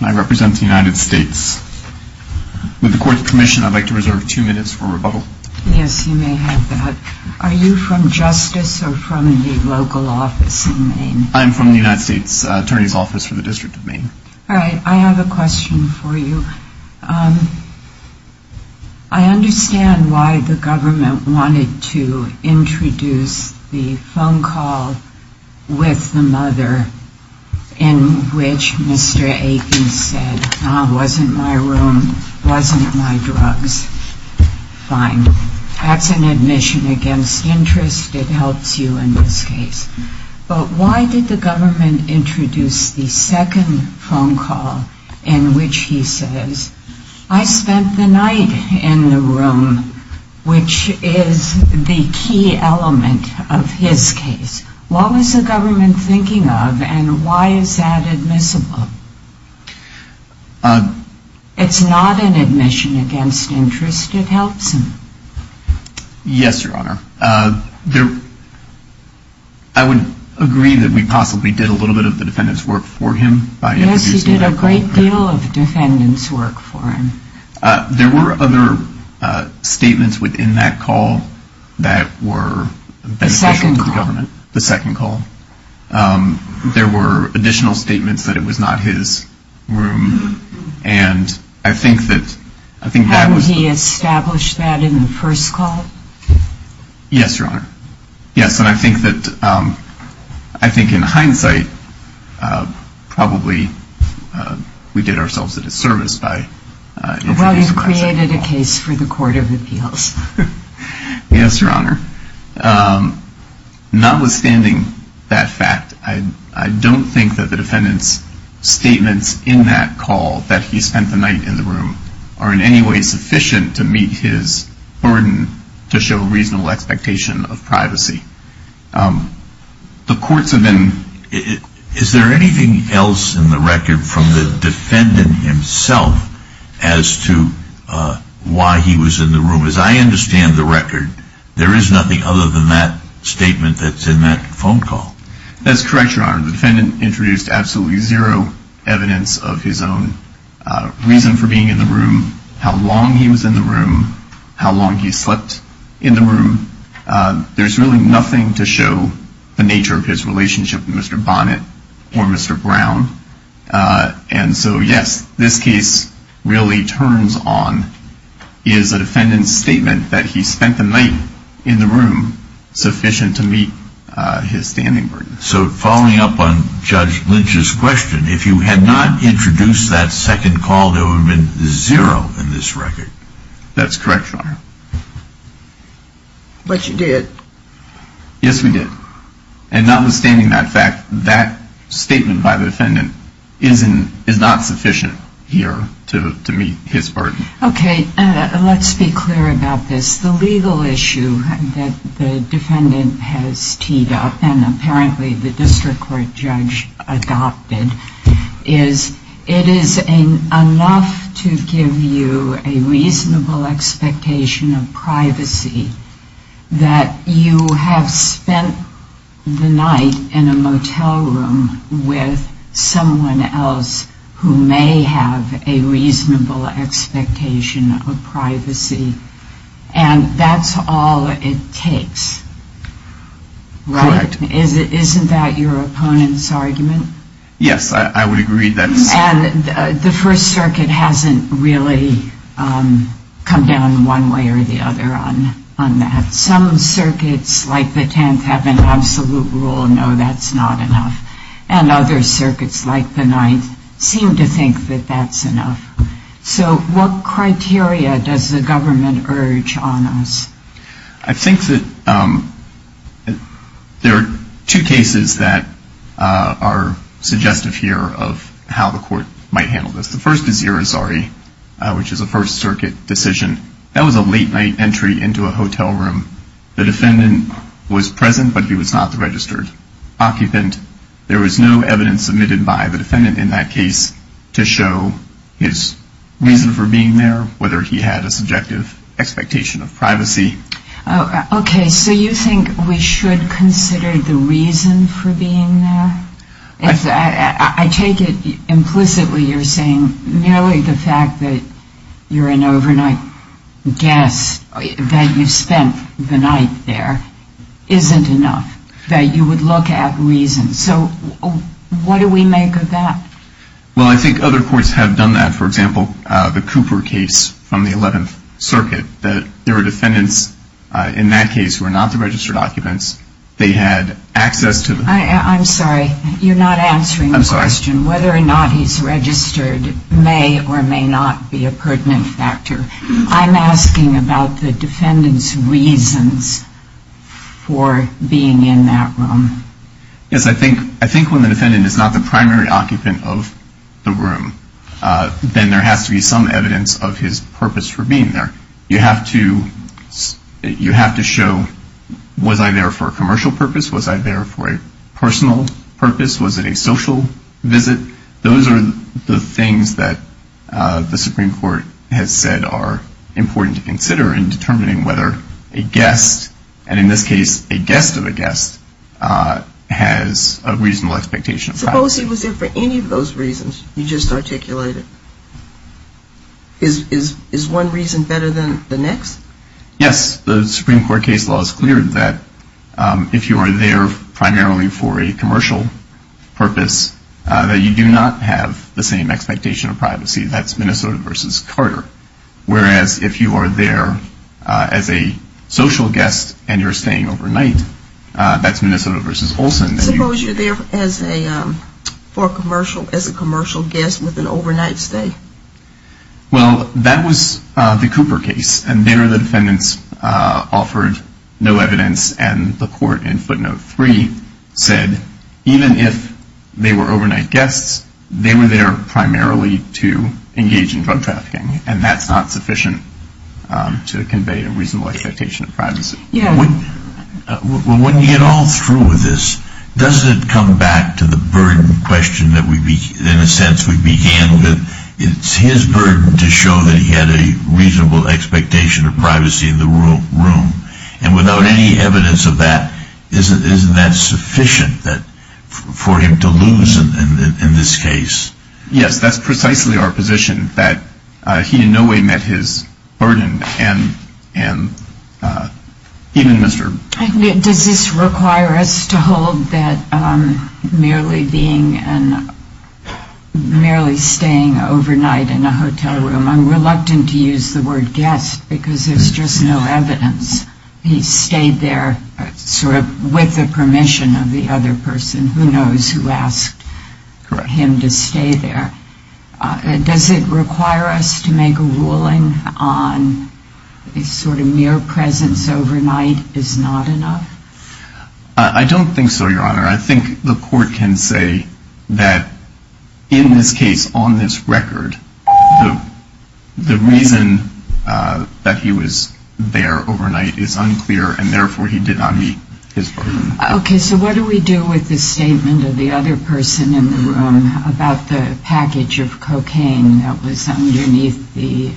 I represent the United States. With the court's permission, I'd like to reserve two minutes for rebuttal. Yes, you may have that. Are you from Justice or from the local office in Maine? I'm from the United States Attorney's Office for the District of Maine. All right. I have a question for you. I understand why the government wanted to introduce the phone call with the mother, in which Mr. Aiken said, wasn't my room, wasn't my drugs. Fine. That's an admission against interest. It helps you in this case. But why did the government introduce the second phone call in which he says, I spent the night in the room, which is the key element of his case? What was the government thinking of, and why is that admissible? It's not an admission against interest. It helps him. Yes, Your Honor. I would agree that we possibly did a little bit of the defendant's work for him by introducing that phone call. Yes, you did a great deal of the defendant's work for him. There were other statements within that call that were beneficial to the government. The second call? The second call. There were additional statements that it was not his room, and I think that was... Hadn't he established that in the first call? Yes, Your Honor. Yes, and I think that, I think in hindsight, probably we did ourselves a disservice by introducing the second phone call. Well, you've created a case for the Court of Appeals. Yes, Your Honor. Notwithstanding that fact, I don't think that the defendant's statements in that call, that he spent the night in the room, are in any way sufficient to meet his burden, to show reasonable expectation of privacy. The courts have been... Is there anything else in the record from the defendant himself as to why he was in the room? As I understand the record, there is nothing other than that statement that's in that phone call. That's correct, Your Honor. The defendant introduced absolutely zero evidence of his own reason for being in the room, how long he was in the room, how long he slept in the room. There's really nothing to show the nature of his relationship with Mr. Bonnet or Mr. Brown. And so, yes, this case really turns on... Is the defendant's statement that he spent the night in the room sufficient to meet his standing burden? So, following up on Judge Lynch's question, if you had not introduced that second call, there would have been zero in this record. That's correct, Your Honor. But you did. Yes, we did. And notwithstanding that fact, that statement by the defendant is not sufficient here to meet his burden. Okay, let's be clear about this. The legal issue that the defendant has teed up, and apparently the district court judge adopted, is it is enough to give you a reasonable expectation of privacy that you have spent the night in a motel room with someone else who may have a reasonable expectation of privacy? And that's all it takes, right? Correct. Isn't that your opponent's argument? Yes, I would agree that's... And the First Circuit hasn't really come down one way or the other on that. Some circuits, like the Tenth, have an absolute rule, no, that's not enough. And other circuits, like the Ninth, seem to think that that's enough. So what criteria does the government urge on us? I think that there are two cases that are suggestive here of how the court might handle this. The first is Irizarry, which is a First Circuit decision. That was a late-night entry into a hotel room. The defendant was present, but he was not the registered occupant. There was no evidence submitted by the defendant in that case to show his reason for being there, or whether he had a subjective expectation of privacy. Okay, so you think we should consider the reason for being there? I take it implicitly you're saying nearly the fact that you're an overnight guest, that you spent the night there, isn't enough, that you would look at reasons. So what do we make of that? Well, I think other courts have done that. For example, the Cooper case from the Eleventh Circuit. There were defendants in that case who were not the registered occupants. They had access to the room. I'm sorry, you're not answering the question. I'm sorry. Whether or not he's registered may or may not be a pertinent factor. I'm asking about the defendant's reasons for being in that room. Yes, I think when the defendant is not the primary occupant of the room, then there has to be some evidence of his purpose for being there. You have to show, was I there for a commercial purpose? Was I there for a personal purpose? Was it a social visit? Those are the things that the Supreme Court has said are important to consider in determining whether a guest, and in this case a guest of a guest, has a reasonable expectation of privacy. Suppose he was there for any of those reasons you just articulated. Is one reason better than the next? Yes. The Supreme Court case law is clear that if you are there primarily for a commercial purpose, that you do not have the same expectation of privacy. That's Minnesota versus Carter. Whereas if you are there as a social guest and you're staying overnight, that's Minnesota versus Olson. Suppose you're there for a commercial, as a commercial guest with an overnight stay. Well, that was the Cooper case, and there the defendants offered no evidence, and the court in footnote three said even if they were overnight guests, they were there primarily to engage in drug trafficking, and that's not sufficient to convey a reasonable expectation of privacy. When you get all through with this, doesn't it come back to the burden question that in a sense we began with? It's his burden to show that he had a reasonable expectation of privacy in the room, and without any evidence of that, isn't that sufficient for him to lose in this case? Yes, that's precisely our position, that he in no way met his burden, and even Mr. Does this require us to hold that merely staying overnight in a hotel room, I'm reluctant to use the word guest because there's just no evidence. He stayed there sort of with the permission of the other person, who knows who asked him to stay there. Does it require us to make a ruling on a sort of mere presence overnight is not enough? I don't think so, Your Honor. I think the court can say that in this case, on this record, the reason that he was there overnight is unclear, and therefore he did not meet his burden. Okay, so what do we do with the statement of the other person in the room about the package of cocaine that was underneath the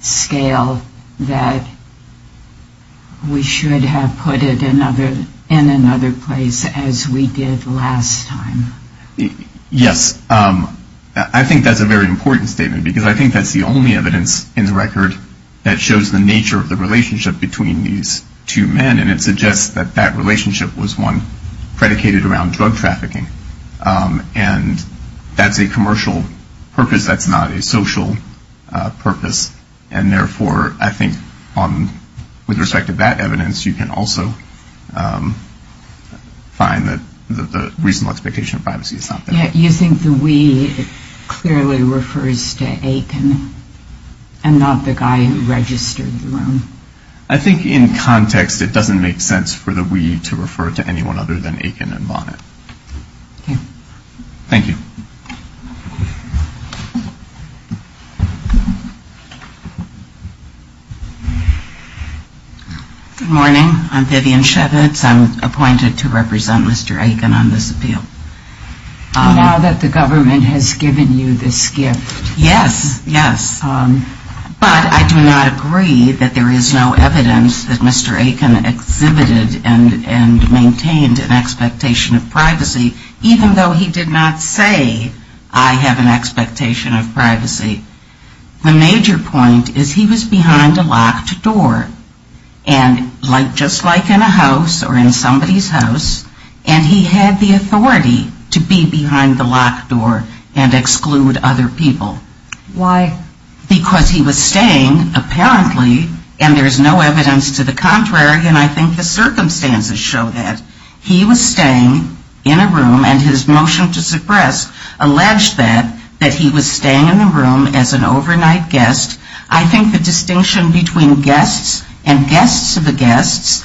scale that we should have put it in another place as we did last time? Yes, I think that's a very important statement, because I think that's the only evidence in the record that shows the nature of the relationship between these two men, and it suggests that that relationship was one predicated around drug trafficking, and that's a commercial purpose, that's not a social purpose, and therefore I think with respect to that evidence, you can also find that the reasonable expectation of privacy is not there. You think the we clearly refers to Aiken and not the guy who registered the room? I think in context it doesn't make sense for the we to refer to anyone other than Aiken and Bonnet. Okay. Thank you. Good morning. I'm Vivian Shevitz. I'm appointed to represent Mr. Aiken on this appeal. Now that the government has given you this gift. Yes, yes, but I do not agree that there is no evidence that Mr. Aiken exhibited and maintained an expectation of privacy, even though he did not say I have an expectation of privacy. The major point is he was behind a locked door, and just like in a house or in somebody's house, and he had the authority to be behind the locked door and exclude other people. Why? Because he was staying, apparently, and there's no evidence to the contrary, and I think the circumstances show that. He was staying in a room, and his motion to suppress alleged that, that he was staying in the room as an overnight guest. I think the distinction between guests and guests of the guests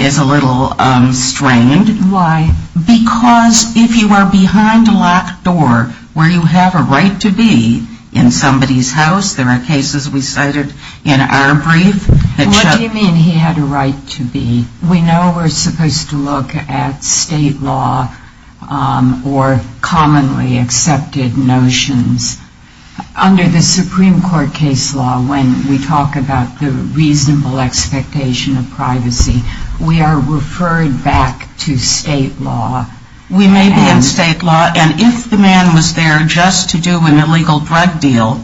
is a little strained. Why? Because if you are behind a locked door where you have a right to be in somebody's house, there are cases we cited in our brief that show. What do you mean he had a right to be? We know we're supposed to look at state law or commonly accepted notions. Under the Supreme Court case law, when we talk about the reasonable expectation of privacy, we are referred back to state law. We may be in state law, and if the man was there just to do an illegal drug deal,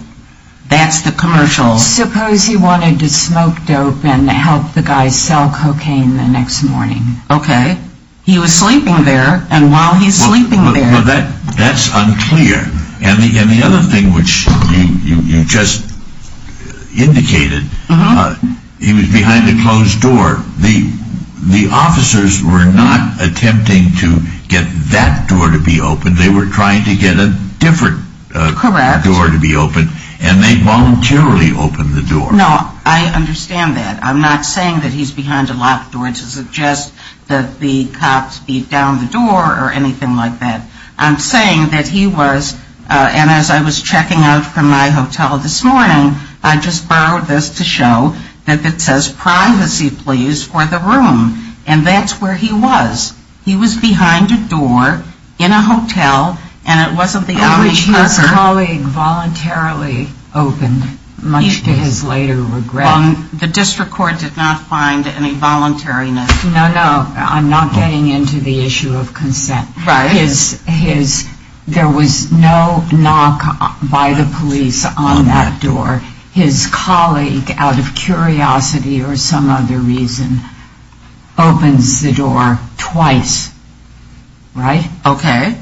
that's the commercial. Suppose he wanted to smoke dope and help the guy sell cocaine the next morning. Okay. He was sleeping there, and while he's sleeping there. Well, that's unclear, and the other thing which you just indicated, he was behind a closed door. The officers were not attempting to get that door to be opened. They were trying to get a different door to be opened, and they voluntarily opened the door. No, I understand that. I'm not saying that he's behind a locked door to suggest that the cops beat down the door or anything like that. I'm saying that he was, and as I was checking out from my hotel this morning, I just borrowed this to show that it says, privacy, please, for the room. And that's where he was. He was behind a door in a hotel, and it wasn't the only person. Which his colleague voluntarily opened, much to his later regret. The district court did not find any voluntariness. No, no. I'm not getting into the issue of consent. Right. There was no knock by the police on that door. His colleague, out of curiosity or some other reason, opens the door twice. Right? Okay.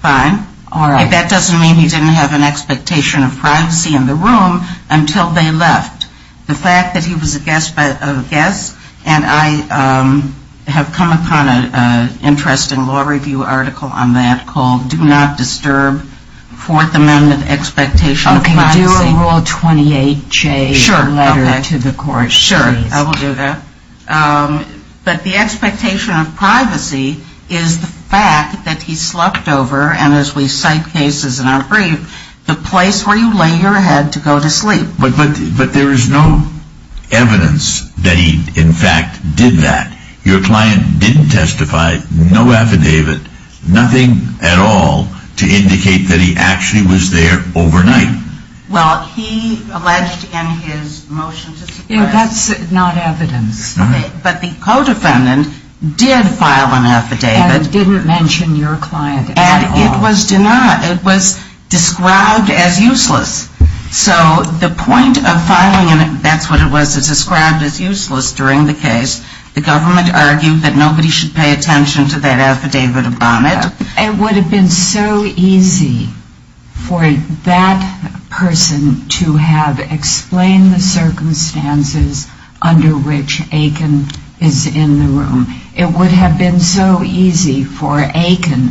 Fine. All right. That doesn't mean he didn't have an expectation of privacy in the room until they left. The fact that he was a guest, and I have come upon an interesting law review article on that called Do Not Disturb, Fourth Amendment Expectation of Privacy. Okay. Do a Rule 28J letter to the court, please. Sure. I will do that. But the expectation of privacy is the fact that he slept over, and as we cite cases in our brief, the place where you lay your head to go to sleep. But there is no evidence that he, in fact, did that. Your client didn't testify, no affidavit, nothing at all to indicate that he actually was there overnight. Well, he alleged in his motion to suppress. That's not evidence. All right. But the co-defendant did file an affidavit. And didn't mention your client at all. And it was denied. It was described as useless. So the point of filing, and that's what it was, it's described as useless during the case. The government argued that nobody should pay attention to that affidavit of vomit. It would have been so easy for that person to have explained the circumstances under which Aiken is in the room. It would have been so easy for Aiken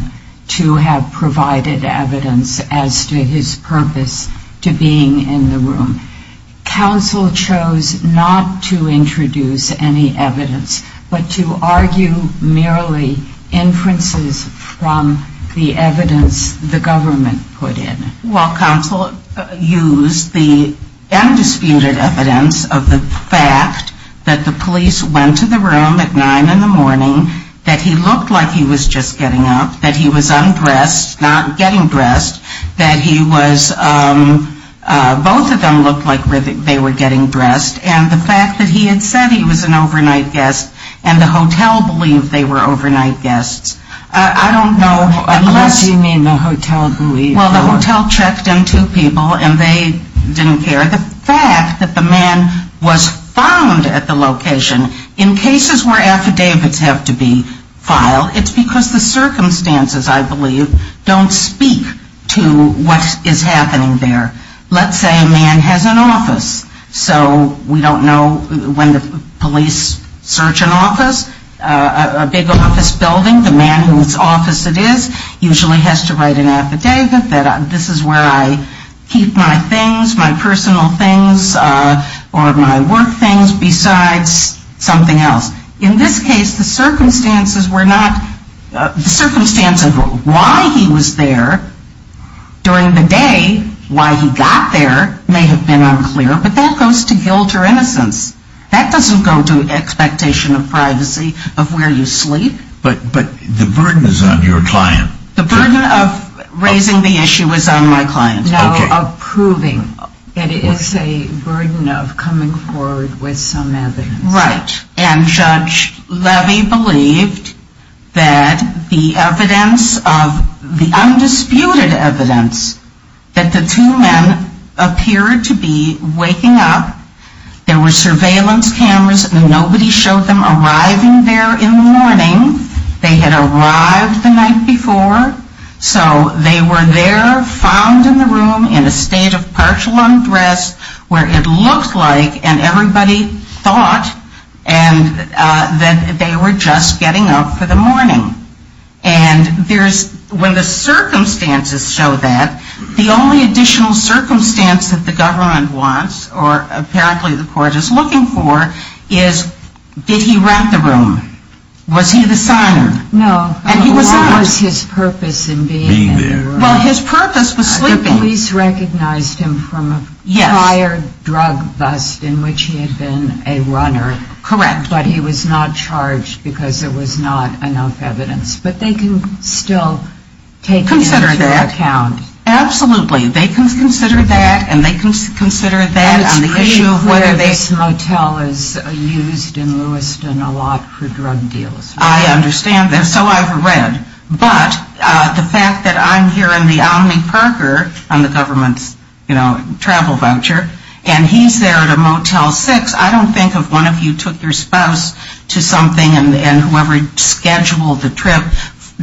to have provided evidence as to his purpose to being in the room. Counsel chose not to introduce any evidence, but to argue merely inferences from the evidence the government put in. Well, counsel used the undisputed evidence of the fact that the police went to the room at 9 in the morning, that he looked like he was just getting up, that he was undressed, not getting dressed, that he was, both of them looked like they were getting dressed, and the fact that he had said he was an overnight guest and the hotel believed they were overnight guests. I don't know unless. What do you mean the hotel believed? Well, the hotel checked in two people and they didn't care. The fact that the man was found at the location in cases where affidavits have to be filed, it's because the circumstances, I believe, don't speak to what is happening there. Let's say a man has an office. So we don't know when the police search an office, a big office building, the man whose office it is usually has to write an affidavit that this is where I keep my things, my personal things or my work things besides something else. In this case, the circumstances were not, the circumstance of why he was there during the day, why he got there may have been unclear, but that goes to guilt or innocence. That doesn't go to expectation of privacy of where you sleep. But the burden is on your client. The burden of raising the issue is on my client. No, of proving. It is a burden of coming forward with some evidence. Right. And Judge Levy believed that the evidence of the undisputed evidence that the two men appeared to be waking up, there were surveillance cameras and nobody showed them arriving there in the morning. They had arrived the night before. So they were there found in the room in a state of partial undress where it looked like and everybody thought that they were just getting up for the morning. And when the circumstances show that, the only additional circumstance that the government wants or apparently the court is looking for is did he rent the room? Was he the signer? No. And he was not. What was his purpose in being there? Well, his purpose was sleeping. The police recognized him from a prior drug bust in which he had been a runner. Correct. But he was not charged because there was not enough evidence. But they can still take it into account. Consider that. Absolutely. They can consider that and they can consider that on the issue of whether they. And it's pretty clear this motel is used in Lewiston a lot for drug deals. I understand that. So I've read. But the fact that I'm here in the Omni Parker on the government's, you know, travel voucher, and he's there at a Motel 6, I don't think if one of you took your spouse to something and whoever scheduled the trip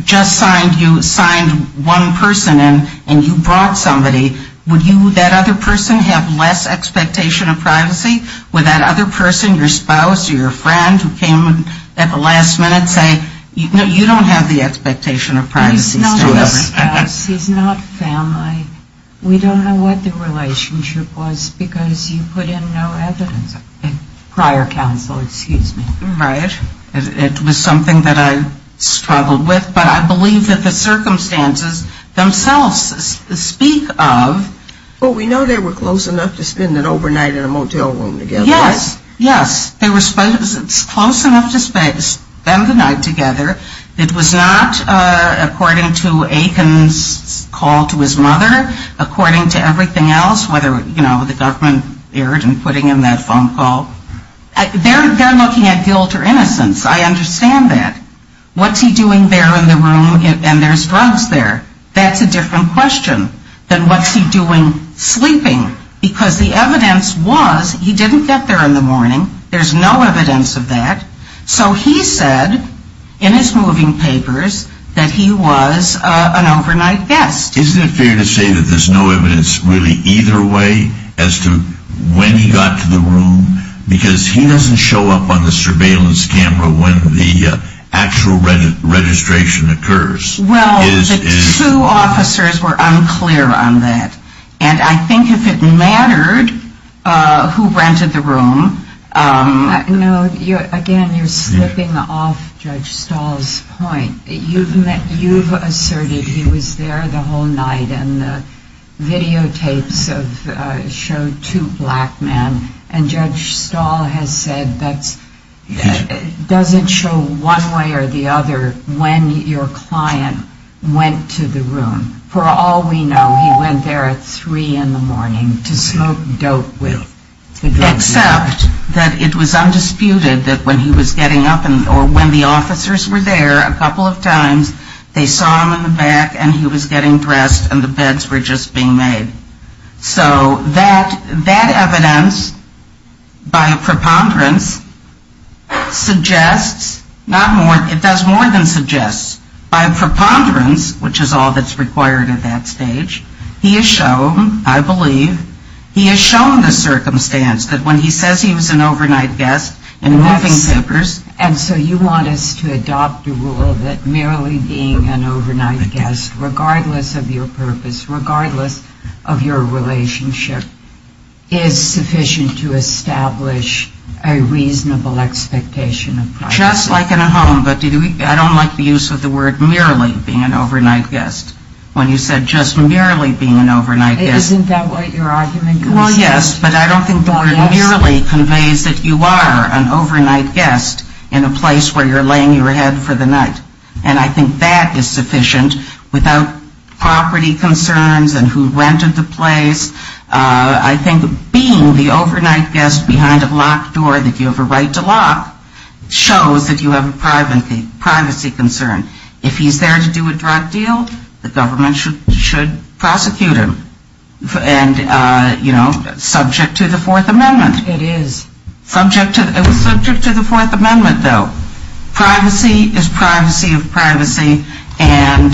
just signed you, signed one person in, and you brought somebody, would you, that other person, have less expectation of privacy? Would that other person, your spouse or your friend who came at the last minute say, you don't have the expectation of privacy. He's not my spouse. He's not family. We don't know what the relationship was because you put in no evidence. Prior counsel, excuse me. Right. It was something that I struggled with. But I believe that the circumstances themselves speak of. Well, we know they were close enough to spend an overnight in a motel room together. Yes. Yes. They were close enough to spend the night together. It was not according to Aiken's call to his mother, according to everything else, whether, you know, the government erred in putting in that phone call. They're looking at guilt or innocence. I understand that. What's he doing there in the room and there's drugs there? That's a different question than what's he doing sleeping because the evidence was he didn't get there in the morning. There's no evidence of that. So he said in his moving papers that he was an overnight guest. Isn't it fair to say that there's no evidence really either way as to when he got to the room? Because he doesn't show up on the surveillance camera when the actual registration occurs. Well, the two officers were unclear on that. And I think if it mattered who rented the room. No, again, you're slipping off Judge Stahl's point. You've asserted he was there the whole night and the videotapes show two black men. And Judge Stahl has said that doesn't show one way or the other when your client went to the room. For all we know, he went there at 3 in the morning to smoke dope with the drug dealer. Except that it was undisputed that when he was getting up or when the officers were there a couple of times, they saw him in the back and he was getting dressed and the beds were just being made. So that evidence by preponderance suggests, it does more than suggest, by preponderance, which is all that's required at that stage, he has shown, I believe, he has shown the circumstance that when he says he was an overnight guest in moving papers. And so you want us to adopt the rule that merely being an overnight guest, regardless of your purpose, regardless of your relationship, is sufficient to establish a reasonable expectation of privacy. Just like in a home, but I don't like the use of the word merely being an overnight guest. When you said just merely being an overnight guest. Isn't that what you're arguing? Well, yes, but I don't think the word merely conveys that you are an overnight guest in a place where you're laying your head for the night. And I think that is sufficient without property concerns and who rented the place. I think being the overnight guest behind a locked door that you have a right to lock shows that you have a privacy concern. If he's there to do a drug deal, the government should prosecute him. And, you know, subject to the Fourth Amendment. It is. Subject to the Fourth Amendment, though. Privacy is privacy of privacy, and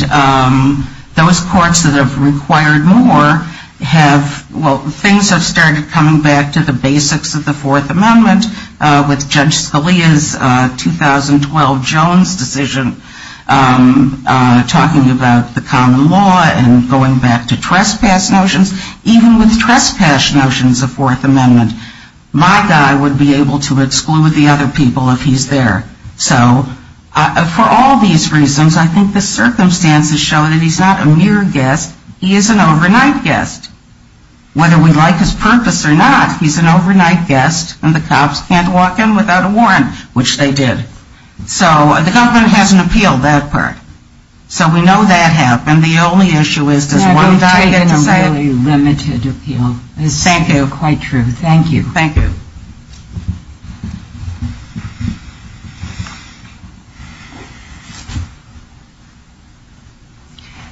those courts that have required more have, well, things have started coming back to the basics of the Fourth Amendment with Judge Scalia's 2012 Jones decision talking about the common law and going back to trespass notions. Even with trespass notions of Fourth Amendment, my guy would be able to exclude the other people if he's there. So for all these reasons, I think the circumstances show that he's not a mere guest. He is an overnight guest. Whether we like his purpose or not, he's an overnight guest and the cops can't walk in without a warrant, which they did. So the government has an appeal, that part. So we know that happened. The only issue is does one guy get to say it? Now, don't take a really limited appeal. Thank you. This is quite true. Thank you. Thank you.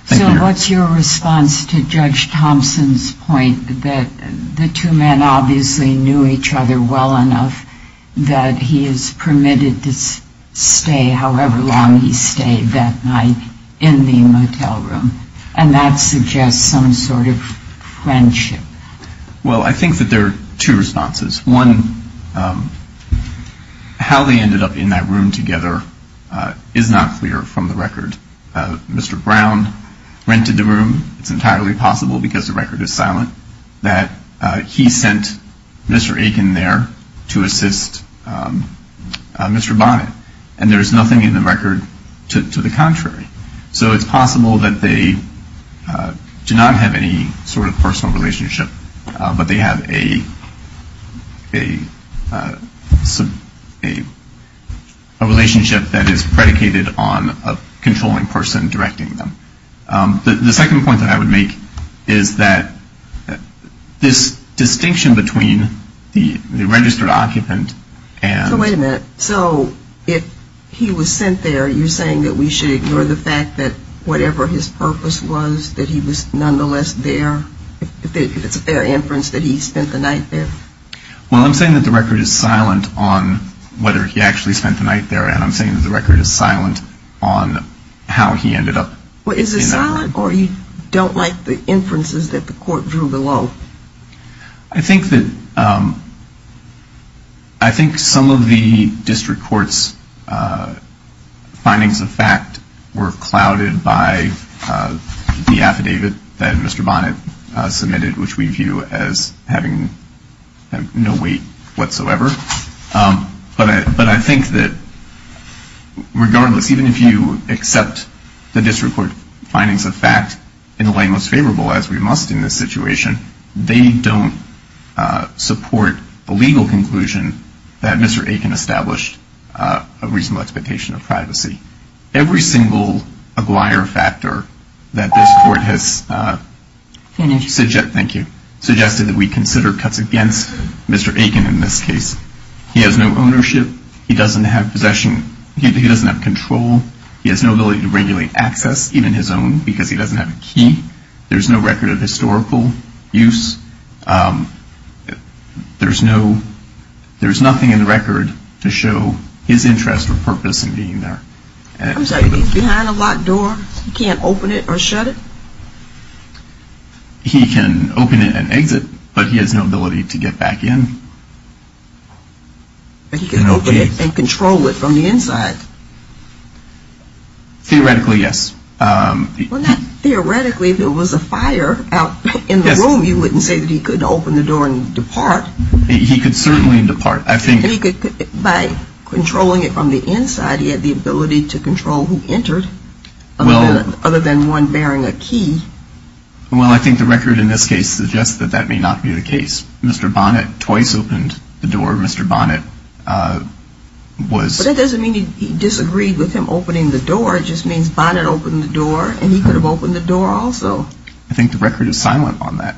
So what's your response to Judge Thompson's point that the two men obviously knew each other well enough that he is permitted to stay however long he stayed that night in the motel room, and that suggests some sort of friendship? Well, I think that there are two responses. One, how they ended up in that room together is not clear from the record. Mr. Brown rented the room. It's entirely possible because the record is silent. That he sent Mr. Aiken there to assist Mr. Bonnet. And there is nothing in the record to the contrary. So it's possible that they do not have any sort of personal relationship, but they have a relationship that is predicated on a controlling person directing them. The second point that I would make is that this distinction between the registered occupant and — So wait a minute. So if he was sent there, you're saying that we should ignore the fact that whatever his purpose was, that he was nonetheless there? If it's a fair inference that he spent the night there? Well, I'm saying that the record is silent on whether he actually spent the night there, and I'm saying that the record is silent on how he ended up in that room. Well, is it silent or you don't like the inferences that the court drew below? I think that some of the district court's findings of fact were clouded by the affidavit that Mr. Bonnet submitted, which we view as having no weight whatsoever. But I think that regardless, even if you accept the district court findings of fact in the way most favorable, as we must in this situation, they don't support the legal conclusion that Mr. Aiken established a reasonable expectation of privacy. Every single Aguirre factor that this court has suggested that we consider cuts against Mr. Aiken in this case, he has no ownership. He doesn't have possession. He doesn't have control. He has no ability to regulate access, even his own, because he doesn't have a key. There's no record of historical use. There's nothing in the record to show his interest or purpose in being there. I'm sorry, he's behind a locked door? He can't open it or shut it? He can open it and exit, but he has no ability to get back in. But he can open it and control it from the inside. Theoretically, yes. Well, not theoretically. If there was a fire out in the room, you wouldn't say that he could open the door and depart. He could certainly depart. By controlling it from the inside, he had the ability to control who entered, other than one bearing a key. Well, I think the record in this case suggests that that may not be the case. Mr. Bonnet twice opened the door. Mr. Bonnet was... But that doesn't mean he disagreed with him opening the door. It just means Bonnet opened the door, and he could have opened the door also. I think the record is silent on that.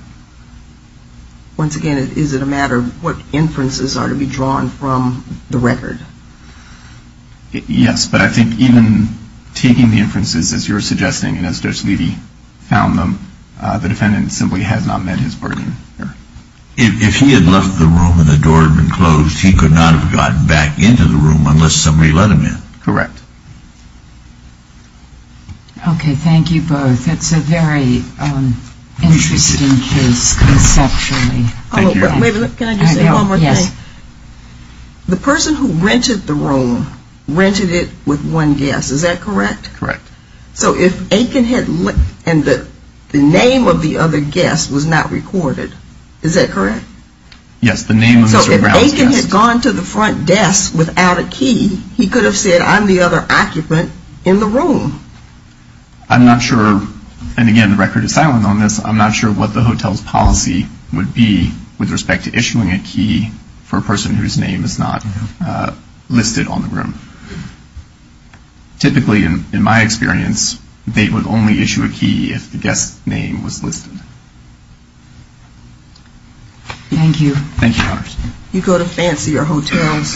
Once again, is it a matter of what inferences are to be drawn from the record? Yes, but I think even taking the inferences as you're suggesting, and as Judge Levy found them, the defendant simply has not met his burden here. If he had left the room and the door had been closed, he could not have gotten back into the room unless somebody let him in. Correct. Okay, thank you both. It's a very interesting case conceptually. Can I just say one more thing? Yes. The person who rented the room rented it with one guest. Is that correct? Correct. So if Aiken had left and the name of the other guest was not recorded, is that correct? Yes, the name of Mr. Brown's guest. If he had gone to the front desk without a key, he could have said, I'm the other occupant in the room. I'm not sure, and again, the record is silent on this, I'm not sure what the hotel's policy would be with respect to issuing a key for a person whose name is not listed on the room. Typically, in my experience, they would only issue a key if the guest's name was listed. Thank you. Thank you. You go to fancier hotels.